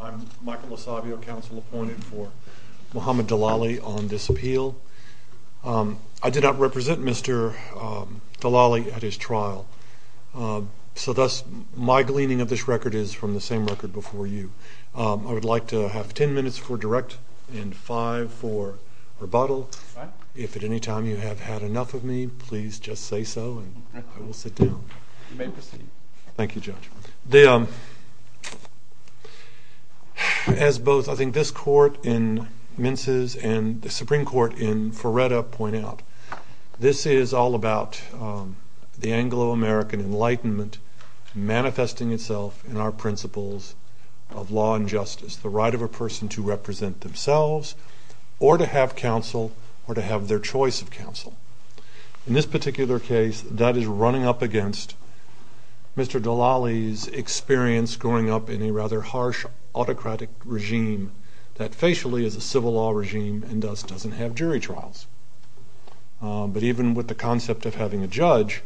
I'm Michael Asabio, counsel appointed for Mohamed Dalalli on this appeal. I did not represent Mr. Dalalli at his trial, so thus my gleaning of this record is from the same record before you. I would like to have ten minutes for direct and five for rebuttal. If at any time you have had enough of me, please just say so and I will sit down. Thank you, Judge. As both I think this court in Mince's and the Supreme Court in Ferretta point out, this is all about the Anglo-American Enlightenment manifesting itself in our principles of law and justice. The right of a person to represent themselves or to have counsel or to have their choice of counsel. In this particular case that is running up against Mr. Dalalli's experience growing up in a rather harsh autocratic regime that facially is a civil law regime and thus doesn't have jury trials. But even with the concept of having a judge,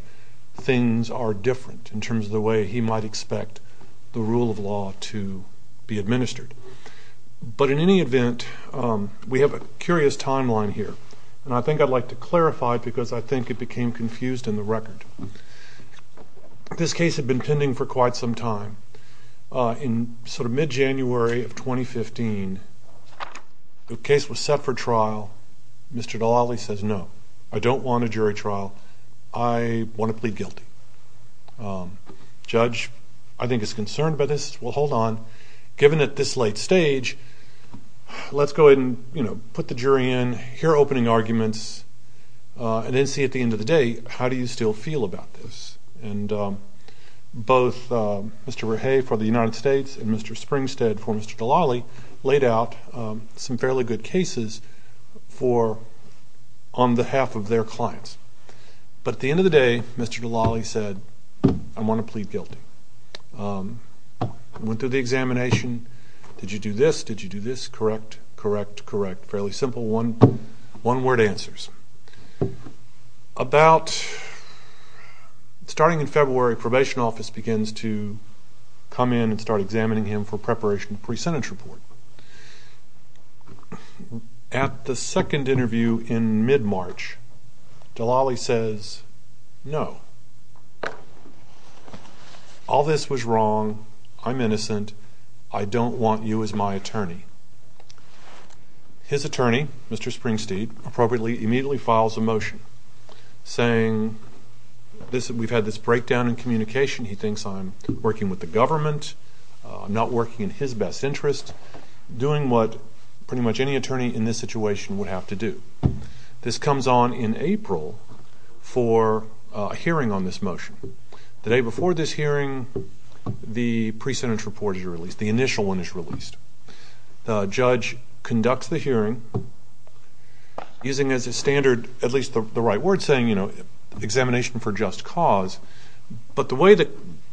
things are different in terms of the way he might expect the rule of law to be administered. But in any event, we have a curious timeline here and I think I'd like to clarify because I think it became confused in the record. This case had been pending for quite some time. In sort of mid-January of 2015, the case was set for trial. Mr. Dalalli says no, I don't want a jury trial. I want to plead guilty. The judge, I think, is concerned about this. Well hold on, given at this late stage, let's go ahead and put the jury in, hear opening arguments, and then see at the end of the day how do you still feel about this. And both Mr. Rahe for the United States and Mr. Springstead for Mr. Dalalli laid out some fairly good cases on behalf of their clients. But at the end of the day, Mr. Dalalli said, I want to plead guilty. Went through the examination. Did you do this? Did you do this? Correct. Correct. Correct. Fairly simple one-word answers. Starting in February, probation office begins to come in and start examining him for preparation for his sentence report. At the second interview in mid-March, Dalalli says no. All this was wrong. I'm innocent. I don't want you as my attorney. His attorney, Mr. Springstead, appropriately immediately files a motion saying, we've had this breakdown in communication. He thinks I'm working with the government. I'm not working in his best interest. Doing what pretty much any attorney in this situation would have to do. This comes on in April for a hearing on this motion. The day before this hearing, the pre-sentence report is released. The initial one is released. The judge conducts the hearing, using as a standard, at least the right word saying, you know, examination for just cause. But the way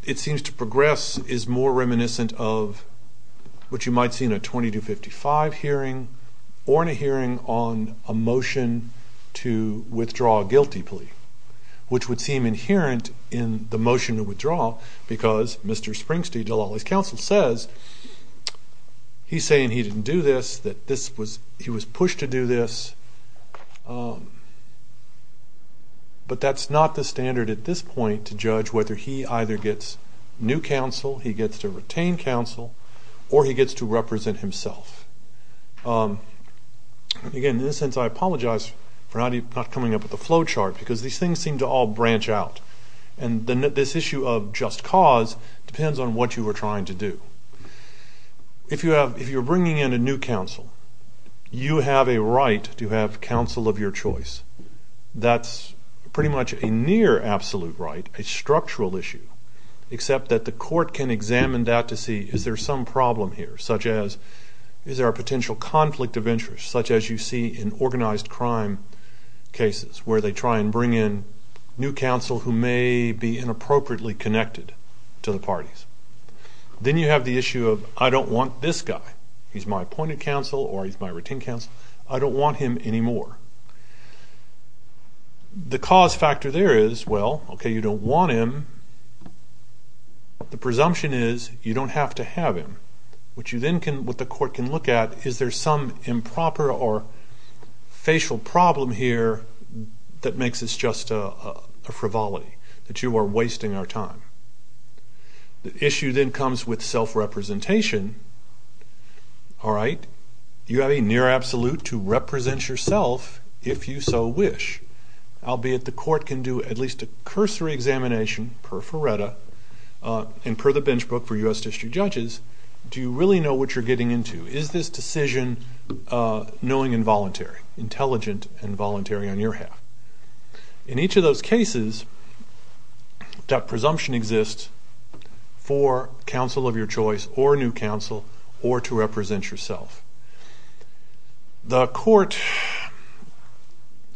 it seems to progress is more reminiscent of what you might see in a 2255 hearing or in a hearing on a motion to withdraw a guilty plea, which would seem inherent in the motion to withdraw because Mr. Springstead, Dalalli's counsel, says, he's saying he didn't do this, that he was pushed to do this, but that's not the standard at this point to judge whether he either gets new counsel, he gets to retain counsel, or he gets to represent himself. Again, in this sense, I apologize for not coming up with a flow chart because these things seem to all branch out. And this issue of just cause depends on what you were trying to do. If you're bringing in a new counsel, you have a right to have counsel of your choice, that's pretty much a near absolute right, a structural issue, except that the court can examine that to see, is there some problem here? Such as, is there a potential conflict of interest? Such as you see in organized crime cases where they try and bring in new counsel who may be inappropriately connected to the parties. Then you have the issue of, I don't want this guy. He's my appointed counsel or he's my retained counsel. I don't want him anymore. The cause factor there is, well, okay, you don't want him. The presumption is, you don't have to have him. What you then can, what the court can look at, is there some improper or facial problem here that makes this just a frivolity, that you are wasting our time? The issue then comes with self-representation. Alright, you have a near absolute to represent yourself if you so wish. Albeit the court can do at least a cursory examination, per Ferretta, and per the Benchbook for U.S. District Judges, do you really know what you're getting into? Is this decision knowing and voluntary, intelligent and voluntary on your half? In each of those cases, that presumption exists for counsel of your choice, or new counsel, or to represent yourself. The court,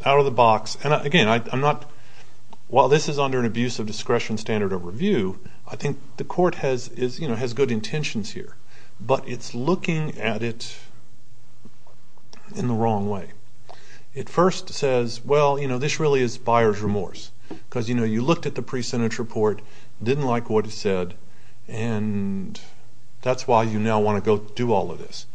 out of the box, and again, I'm not, while this is under an abuse of discretion standard of review, I think the court has, you know, has good intentions here. But it's looking at it in the wrong way. It first says, well, you know, this really is buyer's remorse. Because, you know, you looked at the pre-sentence report, didn't like what it said, and that's why you now want to go do all of this.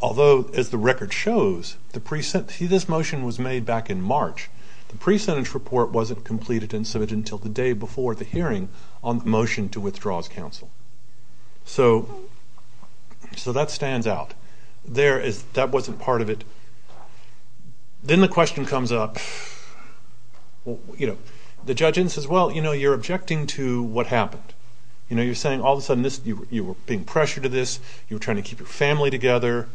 Although, as the record shows, the pre-sentence, see this motion was made back in March. The pre-sentence report wasn't completed and submitted until the day before the hearing on the motion to withdraw as counsel. So, so that stands out. There is, that wasn't part of it. Then the question comes up, you know, the judge then says, well, you know, you're objecting to what happened. You know, you're saying all of a sudden this, you were being pressured to this, you were trying to keep your family together,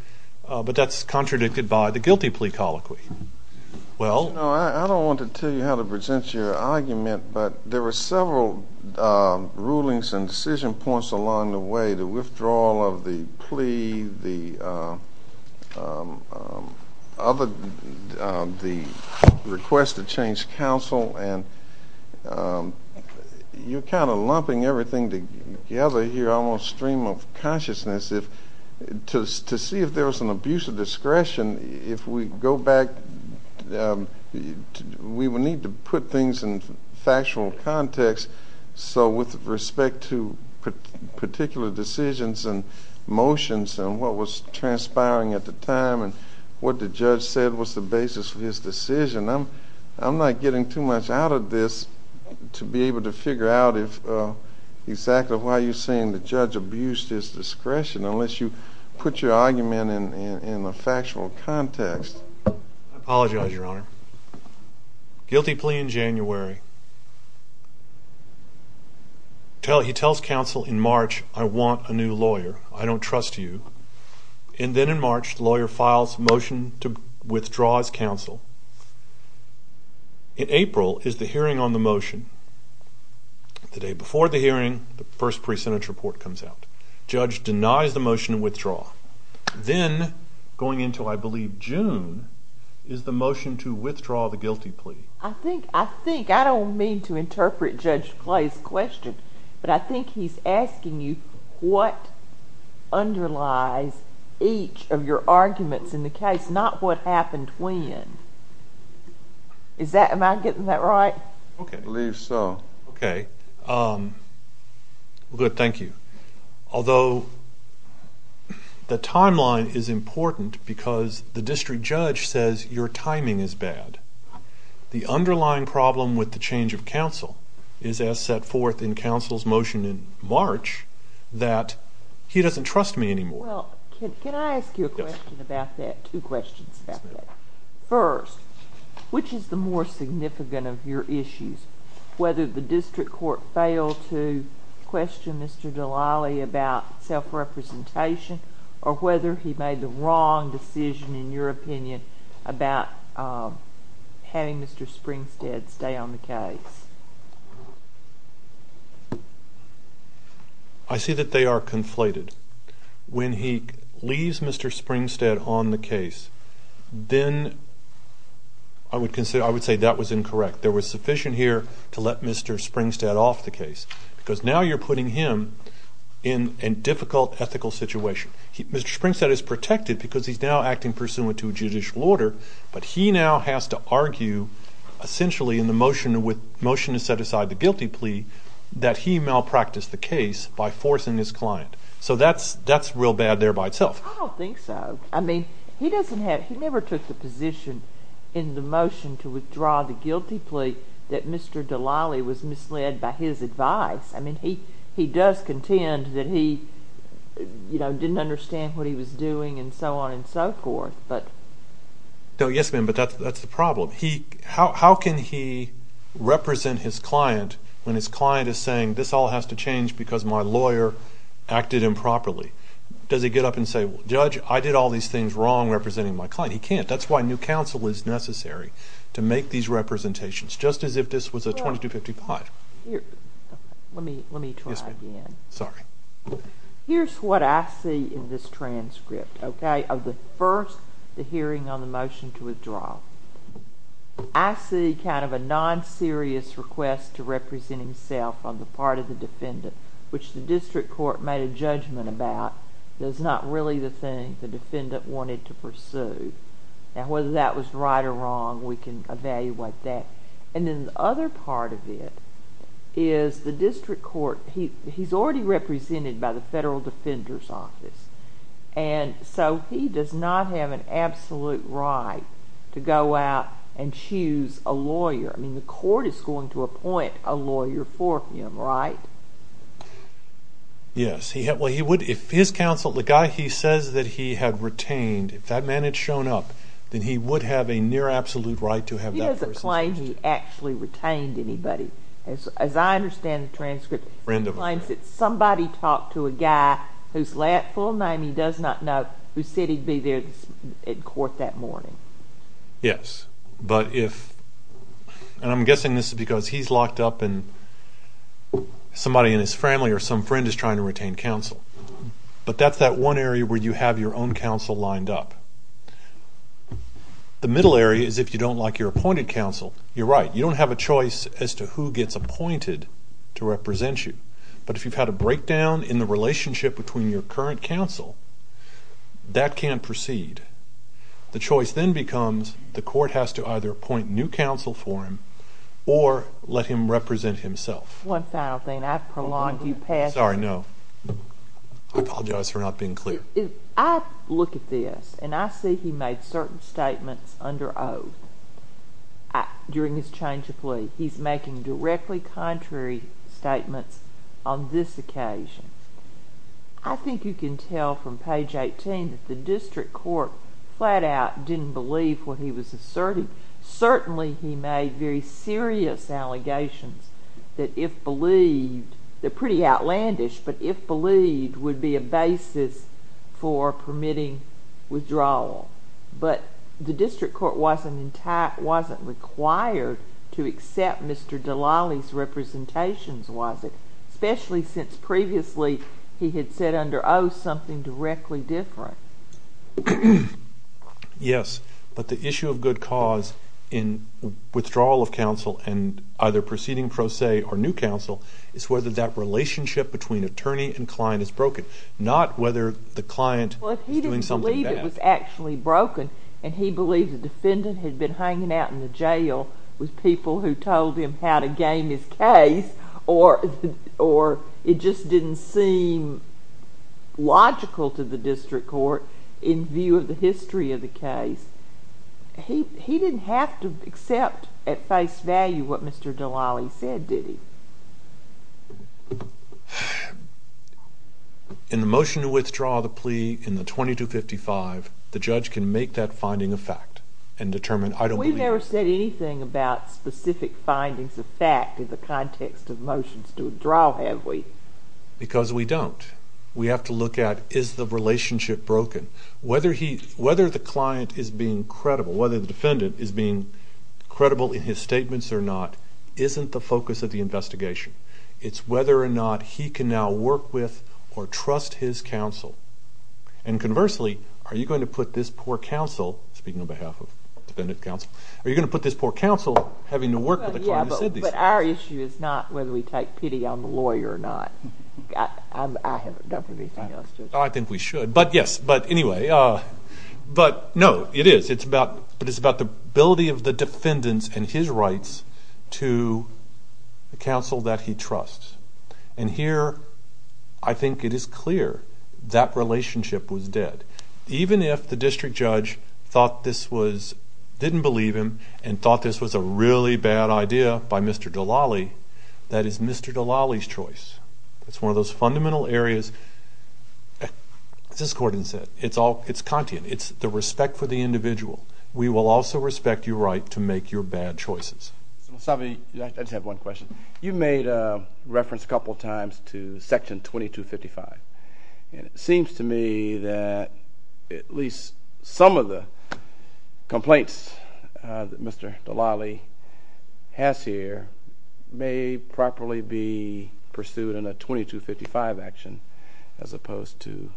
but that's contradicted by the guilty plea colloquy. Well, I don't want to tell you how to present your argument, but there were several rulings and decision points along the way. The request to change counsel and you're kind of lumping everything together here, almost stream of consciousness. If, just to see if there was an abuse of discretion, if we go back, we would need to put things in factual context. So with respect to particular decisions and motions and what was transpiring at the time and what the judge said was the basis for his decision, I'm, I'm not getting too much out of this to be able to figure out if exactly why you're saying the judge abused his discretion unless you put your argument in a factual context. I apologize, Your Honor. Guilty plea in January. He tells counsel in March, I want a new lawyer. I don't trust you. And then in March, the lawyer files motion to withdraw his counsel. In April is the hearing on the motion. The day before the hearing, the first percentage report comes out. Judge denies the motion to withdraw. Then, going into, I believe, June is the motion to withdraw the guilty plea. I think I think I don't mean to interpret Judge Clay's question, but I think he's asking you what underlies each of your arguments in the case, not what happened when. Is that, am I getting that right? Okay. I believe so. Okay. Good, thank you. Although the timeline is important because the district judge says your timing is bad, the underlying problem with the change of counsel is as set forth in counsel's motion in March, that he doesn't trust me anymore. Can I ask you a question about that? Two questions about that. First, which is the more significant of your issues? Whether the district court failed to question Mr. Delali about self-representation or whether he made the wrong decision, in your opinion, about having Mr. Springstead stay on the case? I see that they are conflated. When he leaves Mr. Springstead on the case, then I would consider, I would say that was incorrect. There was sufficient here to let Mr. Springstead off the case, because now you're putting him in a difficult ethical situation. Mr. Springstead is protected because he's now acting pursuant to judicial order, but he now has to argue, essentially, in the motion with motion to set aside the guilty plea, that he malpracticed the case by forcing his client. So that's real bad there by itself. I don't think so. I mean, he never took the position in the motion to withdraw the guilty plea that Mr. Delali was misled by his advice. I mean, he does contend that he, you know, didn't understand what he was doing and so on and so forth. Yes, ma'am, but that's the problem. How can he represent his client as saying, this all has to change because my lawyer acted improperly? Does he get up and say, well, judge, I did all these things wrong representing my client. He can't. That's why new counsel is necessary to make these representations, just as if this was a 2255. Here's what I see in this transcript, okay, of the first hearing on the motion to withdraw. I see kind of a non-serious request to represent himself on the part of the defendant, which the district court made a judgment about. That's not really the thing the defendant wanted to pursue. Now, whether that was right or wrong, we can evaluate that. And then the other part of it is the district court, he's already represented by the Federal Defender's Office, and so he does not have an absolute right to go out and choose a lawyer. I mean, the court is going to appoint a lawyer for him, right? Yes, he had, well, he would, if his counsel, the guy he says that he had retained, if that man had shown up, then he would have a near-absolute right to have that person's custody. He doesn't claim he actually retained anybody. As I understand the transcript, he claims that somebody talked to a guy whose full name he does not know, who said he'd be there in court that morning. Yes, but if, and I'm guessing this is because he's locked up and somebody in his family or some friend is trying to retain counsel. But that's that one area where you have your own counsel lined up. The middle area is if you don't like your appointed counsel. You're right, you don't have a choice as to who gets appointed to represent you. But if you've had a breakdown in the relationship between your current counsel, that can proceed. The choice then becomes the court has to either appoint new counsel for him or let him represent himself. One final thing, I've prolonged you past... Sorry, no. I apologize for not being clear. I look at this and I see he made certain statements under oath during his change to plea. He's making directly contrary statements on this occasion. I think you can tell from page 18 that the district court flat-out didn't believe what he was asserting. Certainly he made very serious allegations that if believed, they're pretty outlandish, but if believed would be a basis for permitting withdrawal. But the district court wasn't required to accept Mr. Dallale's representations, was it? Especially since previously he had said under oath something directly different. Yes, but the issue of good cause in withdrawal of counsel and either proceeding pro se or new counsel is whether that relationship between attorney and client is broken. Not whether the client is doing something bad. He didn't believe it was actually broken and he believed the defendant had been hanging out in the jail with people who told him how to game his case or it just didn't seem logical to the district court in view of the history of the case. He didn't have to accept at face value what in the motion to withdraw the plea in the 2255, the judge can make that finding a fact and determine, I don't believe. We've never said anything about specific findings of fact in the context of motions to withdraw, have we? Because we don't. We have to look at, is the relationship broken? Whether he, whether the client is being credible, whether the defendant is being credible in his it's whether or not he can now work with or trust his counsel. And conversely, are you going to put this poor counsel, speaking on behalf of defendant counsel, are you going to put this poor counsel having to work with a client who said these things? But our issue is not whether we take pity on the lawyer or not. I haven't done anything else to it. I think we should, but yes, but anyway, but no, it is, it's about, but it's about the ability of the defendant's and his rights to counsel that he trusts. And here, I think it is clear that relationship was dead. Even if the district judge thought this was, didn't believe him and thought this was a really bad idea by Mr. Dallale, that is Mr. Dallale's choice. It's one of those fundamental areas. As this court has said, it's all, it's Kantian. It's the respect for the individual. We will also respect your right to make your bad choices. I just have one question. You made a reference a couple of times to Section 2255, and it seems to me that at least some of the complaints that Mr. Dallale has here may properly be pursued in a 2255 action as opposed to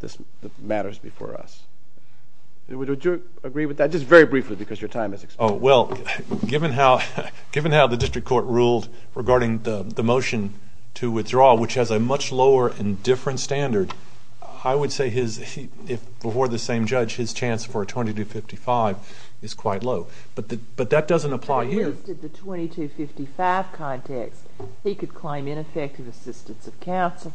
the matters before us. Would you agree with that? Just very briefly, because your time has expired. Well, given how the district court ruled regarding the motion to withdraw, which has a much lower and different standard, I would say his, if before the same judge, his chance for a 2255 is quite low. But that doesn't apply here. In the 2255 context, he could claim ineffective assistance of counsel,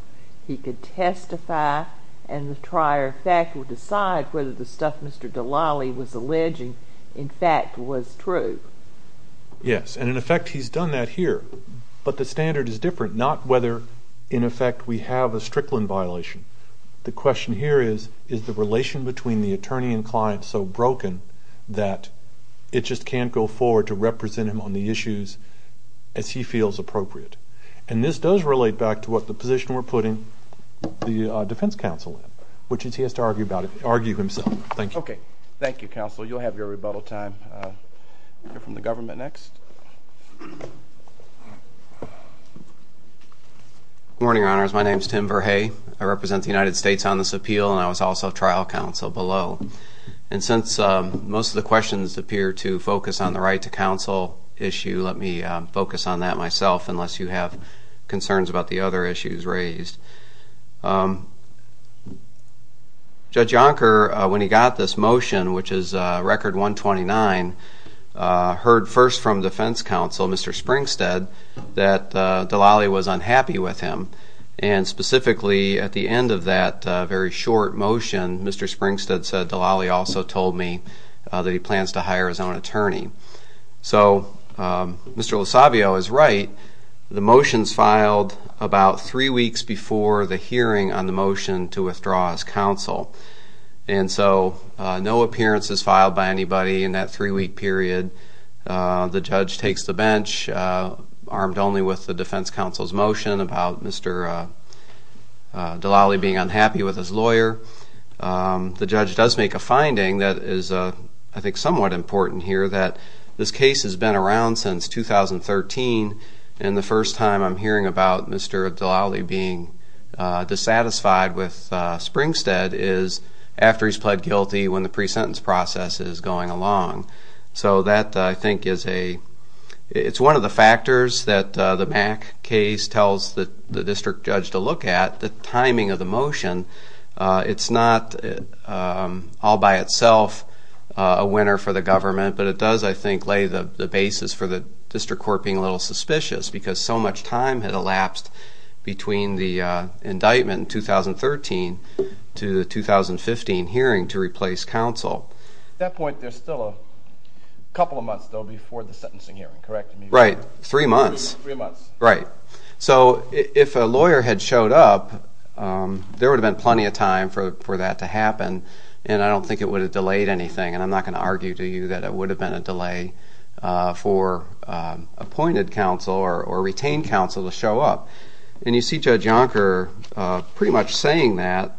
he could testify, and the trier of fact would decide whether the stuff Mr. Dallale was alleging, in fact, was true. Yes, and in effect he's done that here. But the standard is different, not whether, in effect, we have a Strickland violation. The question here is, is the relation between the attorney and client so broken that it just can't go forward to represent him on the issues as he feels appropriate? And this does relate back to what the position we're putting the defense counsel in, which is he has to argue about it, argue himself. Thank you. Okay. Thank you, counsel. You'll have your rebuttal time. We'll hear from the government next. Good morning, Your Honors. My name is Tim Verhey. I represent the United States on this appeal, and I was also trial counsel below. And since most of the questions appear to focus on the right to counsel issue, let me focus on that myself, unless you have concerns about the other issues raised. Judge Yonker, when he got this motion, which is Record 129, heard first from defense counsel, Mr. Springstead, that Dallale was unhappy with him. And specifically at the end of that very short motion, Mr. Springstead said, Dallale also told me that he plans to hire his own attorney. So Mr. LoSavio is right. The motion's filed about three weeks before the hearing on the motion to withdraw his counsel. And so no appearance is filed by anybody in that three-week period. The judge takes the bench, armed only with the defense counsel's motion about Mr. Dallale being unhappy with his lawyer. The judge does make a finding that is, I think, somewhat important here, that this case has been around since 2013, and the first time I'm hearing about Mr. Dallale being dissatisfied with Springstead is after he's pled guilty when the pre-sentence process is going along. So that, I think, is one of the factors that the Mack case tells the district judge to look at, the timing of the motion. It's not all by itself a winner for the government, but it does, I think, lay the basis for the district court being a little suspicious, because so much time had elapsed between the indictment in 2013 to the 2015 hearing to replace counsel. At that point, there's still a couple of months, though, before the sentencing hearing, correct? Right. Three months. Three months. Right. So if a lawyer had showed up, there would have been plenty of time for that to happen, and I don't think it would have delayed anything. And I'm not going to argue to you that it would have been a delay for appointed counsel or retained counsel to show up. And you see Judge Yonker pretty much saying that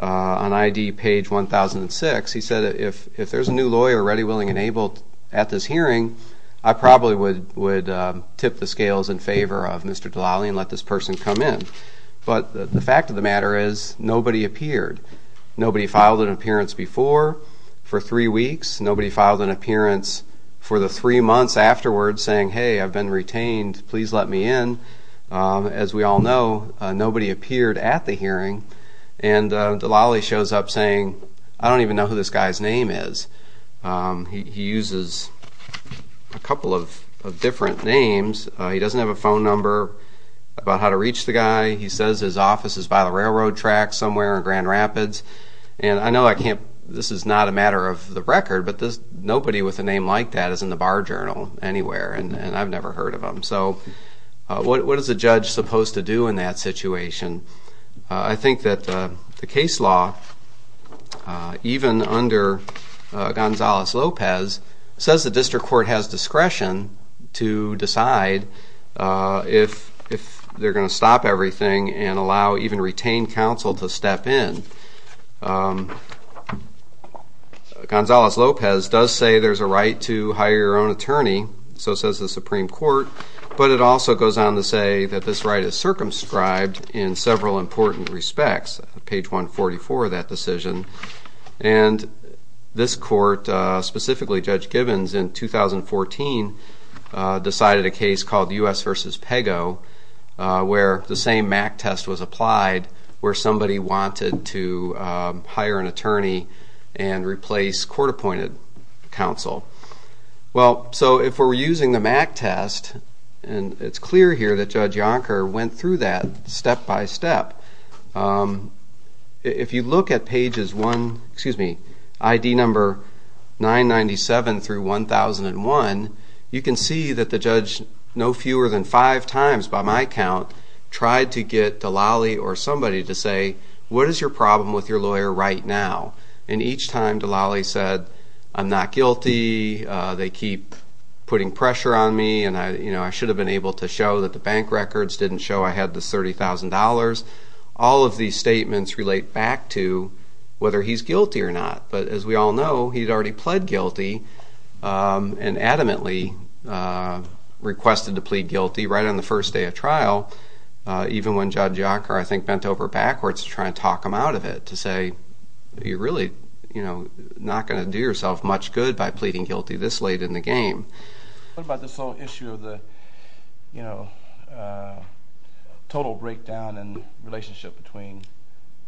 on I.D. page 1006. He said, if there's a new lawyer ready, willing, and able at this hearing, I probably would tip the scales in favor of Mr. Dallale and let this person come in. But the fact of the matter is nobody appeared. Nobody filed an appearance before for three weeks. Nobody filed an appearance for the three months afterwards saying, hey, I've been retained. Please let me in. As we all know, nobody appeared at the hearing. And Dallale shows up saying, I don't even know who this guy's name is. He uses a couple of different names. He doesn't have a phone number about how to reach the guy. He says his office is by the railroad track somewhere in Grand Rapids. And I know this is not a matter of the record, but nobody with a name like that is in the bar journal anywhere. And I've never heard of him. So what is a judge supposed to do in that situation? I think that the case law, even under Gonzales-Lopez, says the district court has discretion to decide if they're going to stop everything and allow even retained counsel to step in. Gonzales-Lopez does say there's a right to hire your own attorney. So says the Supreme Court. But it also goes on to say that this right is circumscribed in several important respects, page 144 of that decision. And this court, specifically Judge Gibbons, in 2014, decided a case called U.S. v. Pago, where the same MAC test was applied, where somebody wanted to hire an attorney and replace court-appointed counsel. Well, so if we're using the MAC test, and it's clear here that Judge Yonker went through that step by step, if you look at pages 1, excuse me, ID number 997 through 1001, you can see that the judge no fewer than five times by my count tried to get Delali or somebody to say, what is your problem with your lawyer right now? And each time Delali said, I'm not guilty, they keep putting pressure on me, and I should have been able to show that the bank records didn't show I had the $30,000. All of these statements relate back to whether he's guilty or not. But as we all know, he'd already pled guilty and adamantly requested to plead guilty right on the first day of trial, even when Judge Yonker, I think, bent over backwards to try and talk him out of it to say, you're really not going to do yourself much good by pleading guilty this late in the game. What about this whole issue of the total breakdown in relationship between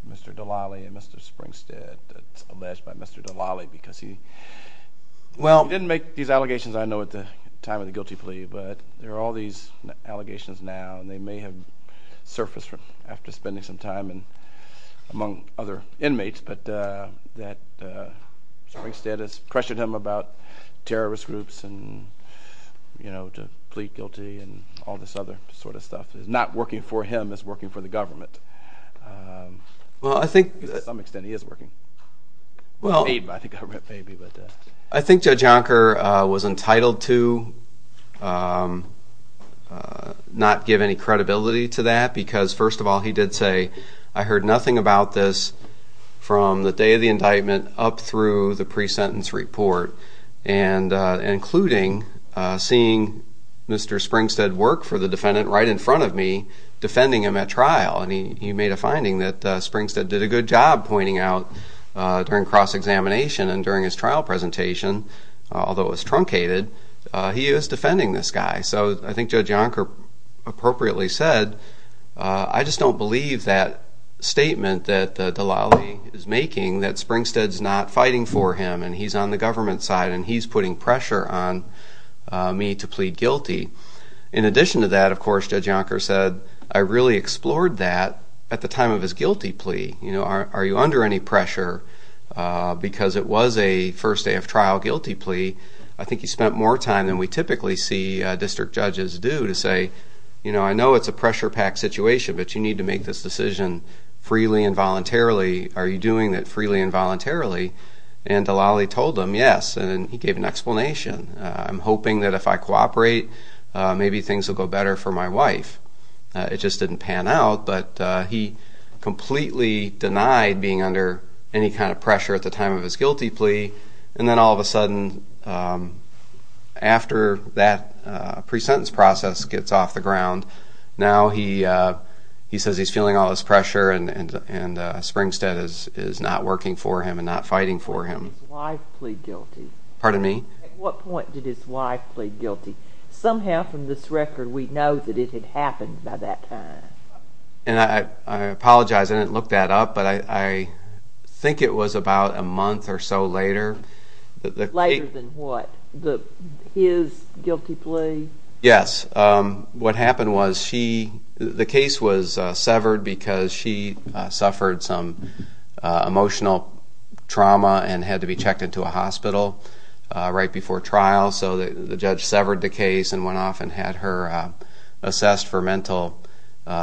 Mr. Delali and Mr. Springstead that's alleged by Mr. Delali? Because he didn't make these allegations, I know, at the time of the guilty plea, but there are all these allegations now, and they may have surfaced after spending some time among other inmates, but that Springstead has pressured him about terrorist groups and to plead guilty and all this other sort of stuff. It's not working for him, it's working for the government. To some extent, he is working. Well, maybe, but I think Judge Yonker was entitled to not give any credibility to that, because, first of all, he did say, I heard nothing about this from the day of the indictment up through the pre-sentence report, including seeing Mr. Springstead work for the defendant right in front of me, defending him at trial. He made a finding that Springstead did a good job pointing out during cross-examination and during his trial presentation, although it was truncated, he was defending this guy. So I think Judge Yonker appropriately said, I just don't believe that statement that the Dalali is making, that Springstead's not fighting for him and he's on the government side and he's putting pressure on me to plead guilty. In addition to that, of course, Judge Yonker said, I really explored that at the time of his guilty plea. Are you under any pressure? Because it was a first day of trial guilty plea, I think he spent more time than we typically see district judges do to say, I know it's a pressure-packed situation, but you need to make this decision freely and voluntarily. Are you doing it freely and voluntarily? And Dalali told him, yes, and he gave an explanation. I'm hoping that if I cooperate, maybe things will go better for my wife. It just didn't pan out, but he completely denied being under any kind of pressure at the time of his guilty plea, and then all of a sudden, after that pre-sentence process gets off the ground, now he says he's feeling all this pressure and Springstead is not working for him and not fighting for him. Why plead guilty? Pardon me? At what point did his wife plead guilty? Somehow from this record, we know that it had happened by that time. And I apologize, I didn't look that up, but I think it was about a month or so later. Later than what? His guilty plea? Yes. What happened was the case was severed because she suffered some emotional trauma and had to be checked into a hospital right before trial, so the judge severed the case and went off and had her assessed for mental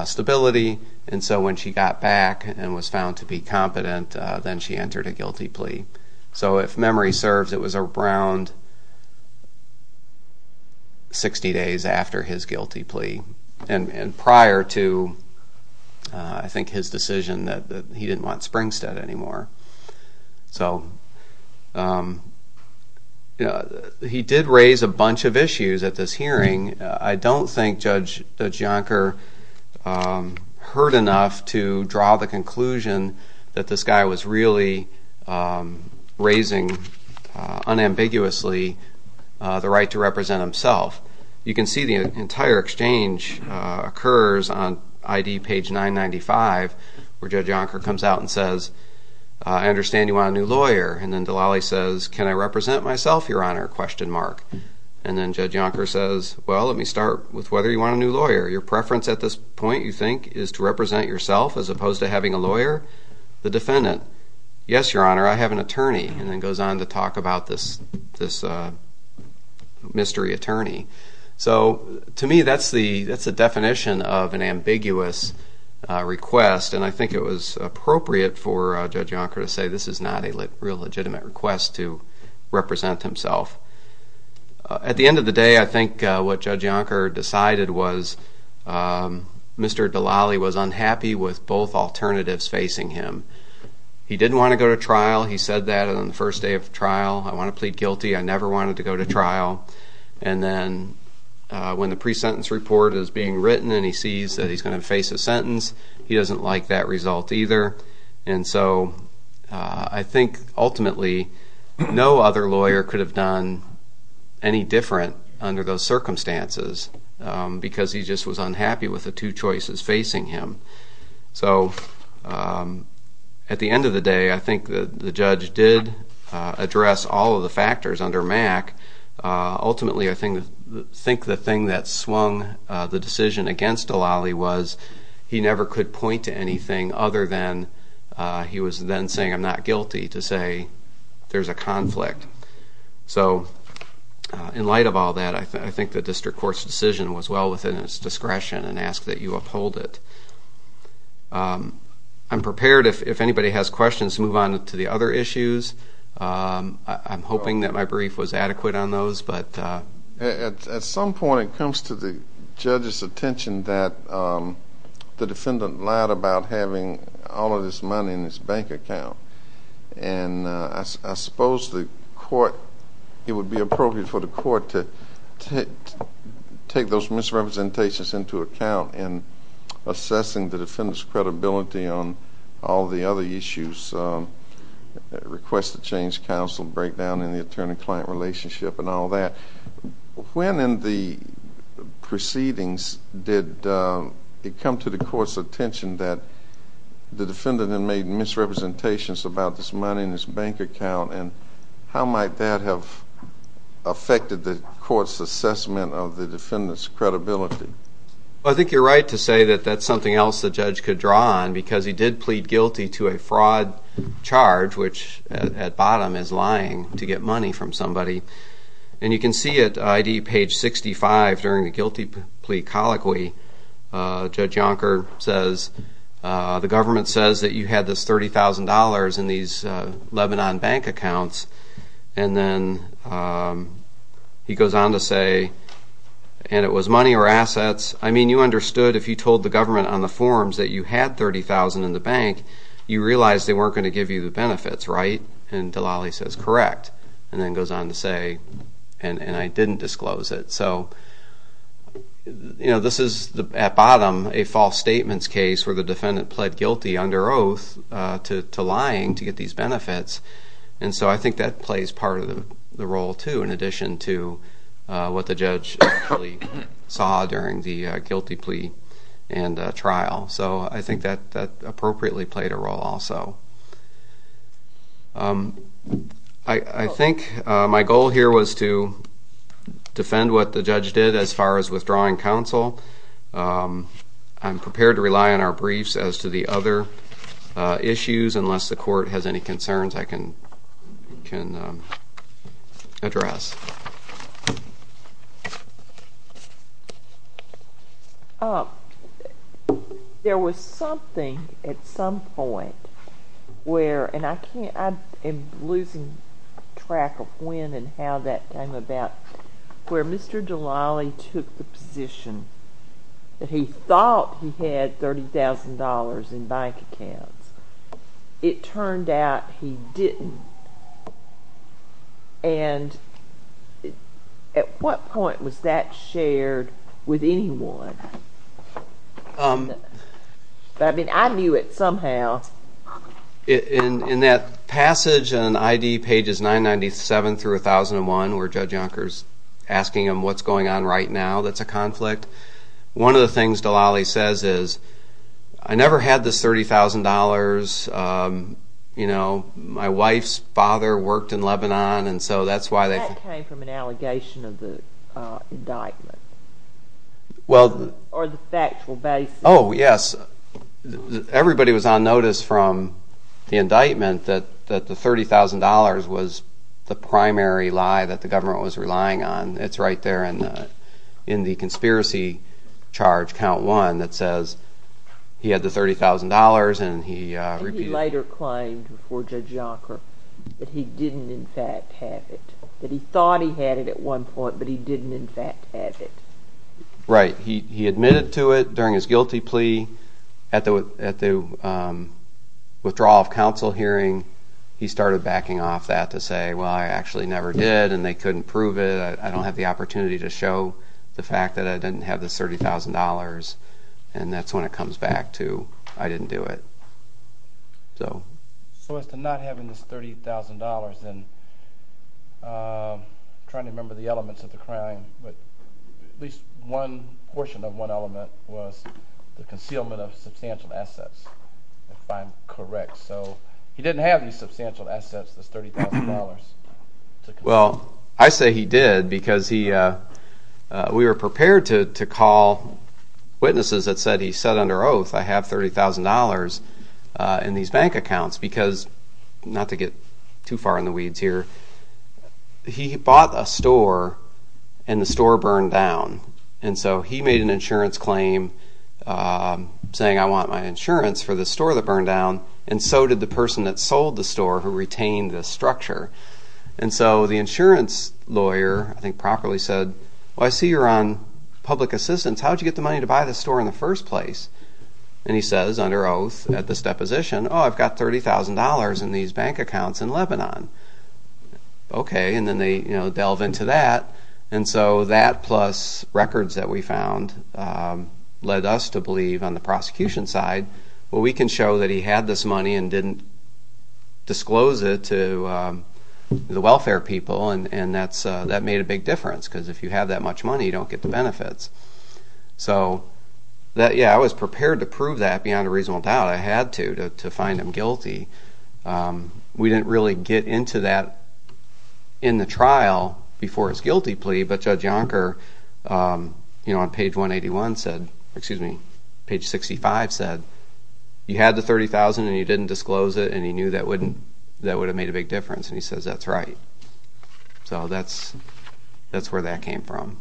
stability. And so when she got back and was found to be competent, then she entered a guilty plea. So if memory serves, it was around 60 days after his guilty plea and prior to, I think, his decision that he didn't want Springstead anymore. So he did raise a bunch of issues at this hearing. I don't think Judge Yonker heard enough to draw the conclusion that this guy was really raising unambiguously the right to represent himself. You can see the entire exchange occurs on ID page 995, where Judge Yonker comes out and says, I understand you want a new lawyer. And then Delali says, can I represent myself, Your Honor? And then Judge Yonker says, well, let me start with whether you want a new lawyer. Your preference at this point, you think, is to represent yourself as opposed to having a lawyer? The defendant, yes, Your Honor, I have an attorney, and then goes on to talk about this mystery attorney. So to me, that's the definition of an ambiguous request. And I think it was appropriate for Judge Yonker to say this is not a real legitimate request to represent himself. At the end of the day, I think what Judge Yonker decided was Mr. Delali was unhappy with both alternatives facing him. He didn't want to go to trial. He said that on the first day of trial. And then when the pre-sentence report is being written and he sees that he's going to face a sentence, he doesn't like that result either. And so I think ultimately no other lawyer could have done any different under those circumstances because he just was unhappy with the two choices facing him. So at the end of the day, I think the judge did address all of the factors under MAC. Ultimately, I think the thing that swung the decision against Delali was he never could point to anything other than he was then saying, I'm not guilty, to say there's a conflict. So in light of all that, I think the district court's decision was well within its discretion and asked that you uphold it. I'm prepared, if anybody has questions, to move on to the other issues. I'm hoping that my brief was adequate on those. At some point, it comes to the judge's attention that the defendant lied about having all of his money in his bank account. And I suppose it would be appropriate for the court to take those misrepresentations into account in assessing the defendant's credibility on all the other issues, request to change counsel, breakdown in the attorney-client relationship and all that. When in the proceedings did it come to the court's attention that the defendant had made misrepresentations about his money in his bank account and how might that have affected the court's assessment of the defendant's credibility? I think you're right to say that that's something else the judge could draw on because he did plead guilty to a fraud charge, which at bottom is lying to get money from somebody. And you can see it, I.D., page 65, during the guilty plea colloquy. Judge Yonker says, the government says that you had this $30,000 in these Lebanon bank accounts. And then he goes on to say, and it was money or assets. I mean, you understood if you told the government on the forms that you had $30,000 in the bank, you realized they weren't going to give you the benefits, right? And Delali says, correct, and then goes on to say, and I didn't disclose it. So, you know, this is, at bottom, a false statements case where the defendant pled guilty under oath to lying to get these benefits. And so I think that plays part of the role, too, in addition to what the judge actually saw during the guilty plea and trial. So I think that appropriately played a role also. I think my goal here was to defend what the judge did as far as withdrawing counsel. I'm prepared to rely on our briefs as to the other issues, unless the court has any concerns I can address. There was something at some point where, and I can't, I'm losing track of when and how that came about, where Mr. Delali took the position that he thought he had $30,000 in bank accounts. It turned out he didn't. And at what point was that shared with anyone? I mean, I knew it somehow. In that passage in ID pages 997 through 1001, where Judge Yonker's asking him what's going on right now, that's a conflict, one of the things Delali says is, I never had this $30,000, you know, my wife's father worked in Lebanon, and so that's why they... That came from an allegation of the indictment. Well... Or the factual basis. Oh, yes. Everybody was on notice from the indictment that the $30,000 was the primary lie that the government was relying on. It's right there in the conspiracy charge, count one, that says he had the $30,000 and he... And he later claimed before Judge Yonker that he didn't in fact have it, that he thought he had it at one point, but he didn't in fact have it. Right. He admitted to it during his guilty plea at the withdrawal of counsel hearing. He started backing off that to say, well, I actually never did, and they couldn't prove it. I don't have the opportunity to show the fact that I didn't have this $30,000, and that's when it comes back to I didn't do it. So... So as to not having this $30,000 and trying to remember the elements of the crime, but at least one portion of one element was the concealment of substantial assets, if I'm correct. So he didn't have any substantial assets, this $30,000. Well, I say he did because we were prepared to call witnesses that said he said under oath, I have $30,000 in these bank accounts because, not to get too far in the weeds here, he bought a store and the store burned down, and so he made an insurance claim saying I want my insurance for the store that burned down, and so did the person that sold the store who retained the structure. And so the insurance lawyer, I think properly said, well, I see you're on public assistance. How did you get the money to buy this store in the first place? And he says under oath at this deposition, oh, I've got $30,000 in these bank accounts in Lebanon. Okay, and then they delve into that, and so that plus records that we found led us to believe on the prosecution side, well, we can show that he had this money and didn't disclose it to the welfare people, and that made a big difference because if you have that much money, you don't get the benefits. So, yeah, I was prepared to prove that beyond a reasonable doubt. I had to to find him guilty. We didn't really get into that in the trial before his guilty plea, but Judge Yonker on page 181 said, excuse me, page 65 said, you had the $30,000 and you didn't disclose it, and he knew that would have made a big difference, and he says that's right. So that's where that came from.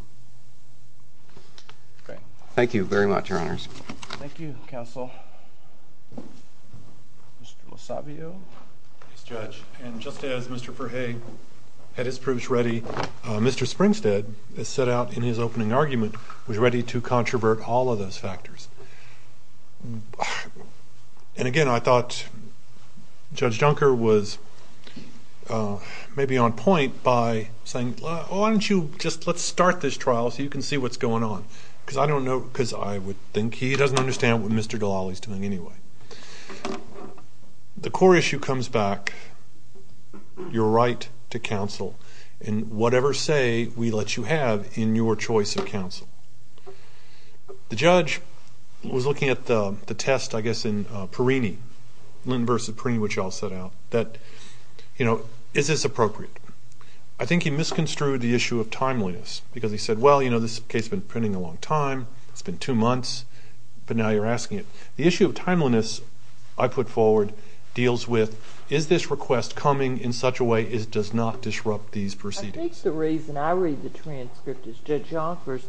Okay. Thank you very much, Your Honors. Thank you, Counsel. Mr. LoSavio. Yes, Judge. And just as Mr. Ferhey had his proofs ready, Mr. Springstead set out in his opening argument was ready to controvert all of those factors. And, again, I thought Judge Yonker was maybe on point by saying, why don't you just let's start this trial so you can see what's going on, because I don't know, because I would think he doesn't understand what Mr. Delawley is doing anyway. The core issue comes back, your right to counsel, and whatever say we let you have in your choice of counsel. The judge was looking at the test, I guess, in Perini, Linton v. Perini, which I'll set out, that, you know, is this appropriate? I think he misconstrued the issue of timeliness, because he said, well, you know, this case has been pending a long time, it's been two months, but now you're asking it. The issue of timeliness I put forward deals with, is this request coming in such a way as it does not disrupt these proceedings? I think the reason I read the transcript is Judge Yonker's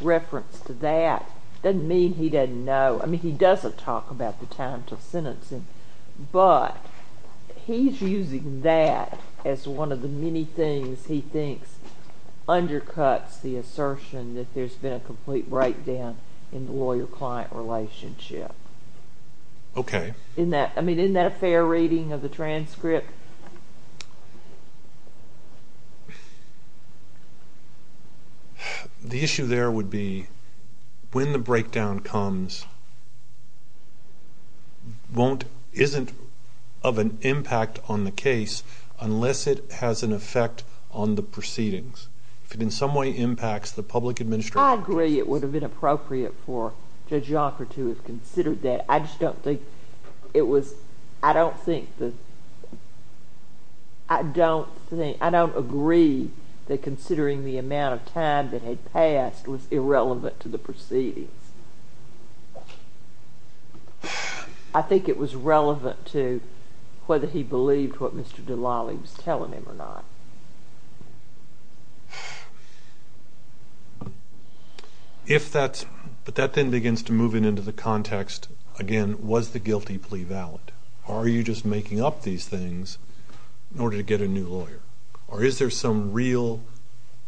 reference to that. It doesn't mean he doesn't know. I mean, he doesn't talk about the time until sentencing, but he's using that as one of the many things he thinks undercuts the assertion that there's been a complete breakdown in the lawyer-client relationship. Okay. I mean, isn't that a fair reading of the transcript? The issue there would be when the breakdown comes isn't of an impact on the case unless it has an effect on the proceedings. If it in some way impacts the public administration... I agree it would have been appropriate for Judge Yonker to have considered that. I just don't think it was... I don't think the... I don't think... I don't agree that considering the amount of time that had passed was irrelevant to the proceedings. I think it was relevant to whether he believed what Mr. Delali was telling him or not. If that's... But that then begins to move into the context, again, was the guilty plea valid? Are you just making up these things in order to get a new lawyer? Or is there some real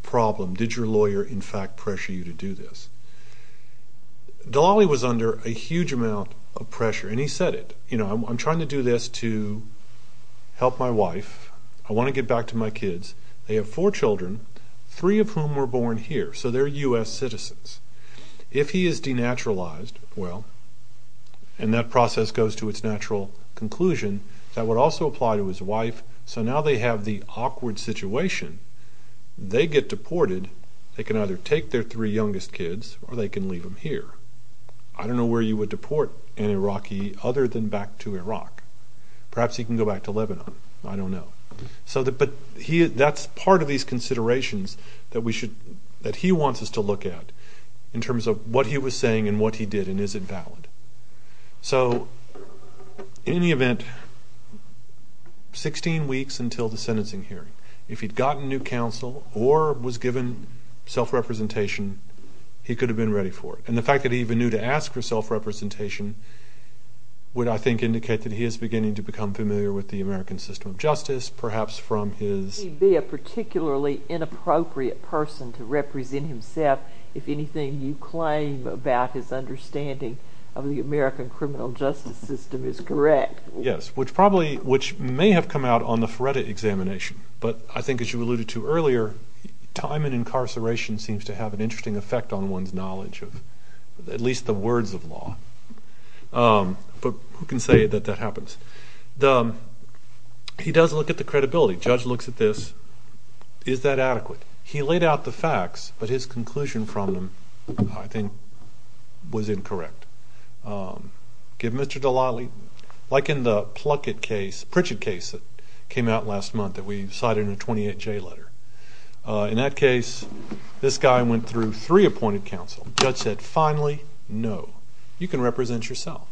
problem? Did your lawyer, in fact, pressure you to do this? Delali was under a huge amount of pressure, and he said it. You know, I'm trying to do this to help my wife. I want to get back to my kids. They have four children, three of whom were born here, so they're U.S. citizens. If he is denaturalized, well, and that process goes to its natural conclusion, that would also apply to his wife. So now they have the awkward situation. They get deported. They can either take their three youngest kids, or they can leave them here. Perhaps he can go back to Lebanon. I don't know. But that's part of these considerations that he wants us to look at in terms of what he was saying and what he did, and is it valid. So in any event, 16 weeks until the sentencing hearing, if he'd gotten new counsel or was given self-representation, he could have been ready for it. And the fact that he even knew to ask for self-representation would, I think, indicate that he is beginning to become familiar with the American system of justice, perhaps from his He'd be a particularly inappropriate person to represent himself if anything you claim about his understanding of the American criminal justice system is correct. Yes, which may have come out on the FREDA examination, but I think, as you alluded to earlier, time in incarceration seems to have an interesting effect on one's knowledge of at least the words of law. But who can say that that happens? He does look at the credibility. The judge looks at this. Is that adequate? He laid out the facts, but his conclusion from them, I think, was incorrect. Give Mr. Dallale, like in the Pluckett case, Pritchett case, that came out last month that we cited in the 28-J letter. In that case, this guy went through three appointed counsel. The judge said, finally, no. You can represent yourself.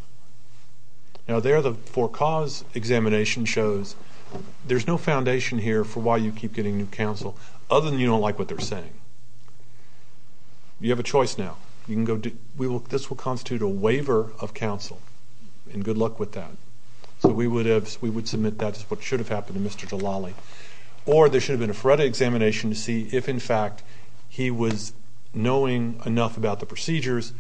Now, there the for cause examination shows there's no foundation here for why you keep getting new counsel, other than you don't like what they're saying. You have a choice now. This will constitute a waiver of counsel, and good luck with that. So we would submit that as what should have happened to Mr. Dallale. Or there should have been a FREDA examination to see if, in fact, he was knowing enough about the procedures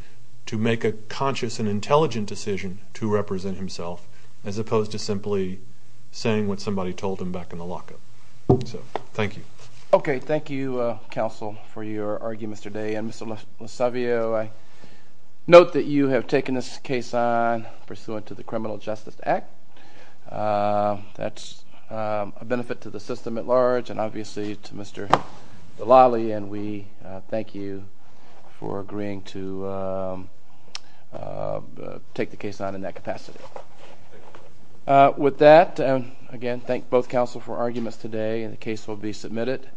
to make a conscious and intelligent decision to represent himself, as opposed to simply saying what somebody told him back in the lockup. So thank you. Okay, thank you, counsel, for your arguments today. And, Mr. Lasavio, I note that you have taken this case on pursuant to the Criminal Justice Act. That's a benefit to the system at large, and obviously to Mr. Dallale, and we thank you for agreeing to take the case on in that capacity. With that, again, thank both counsel for arguments today, and the case will be submitted.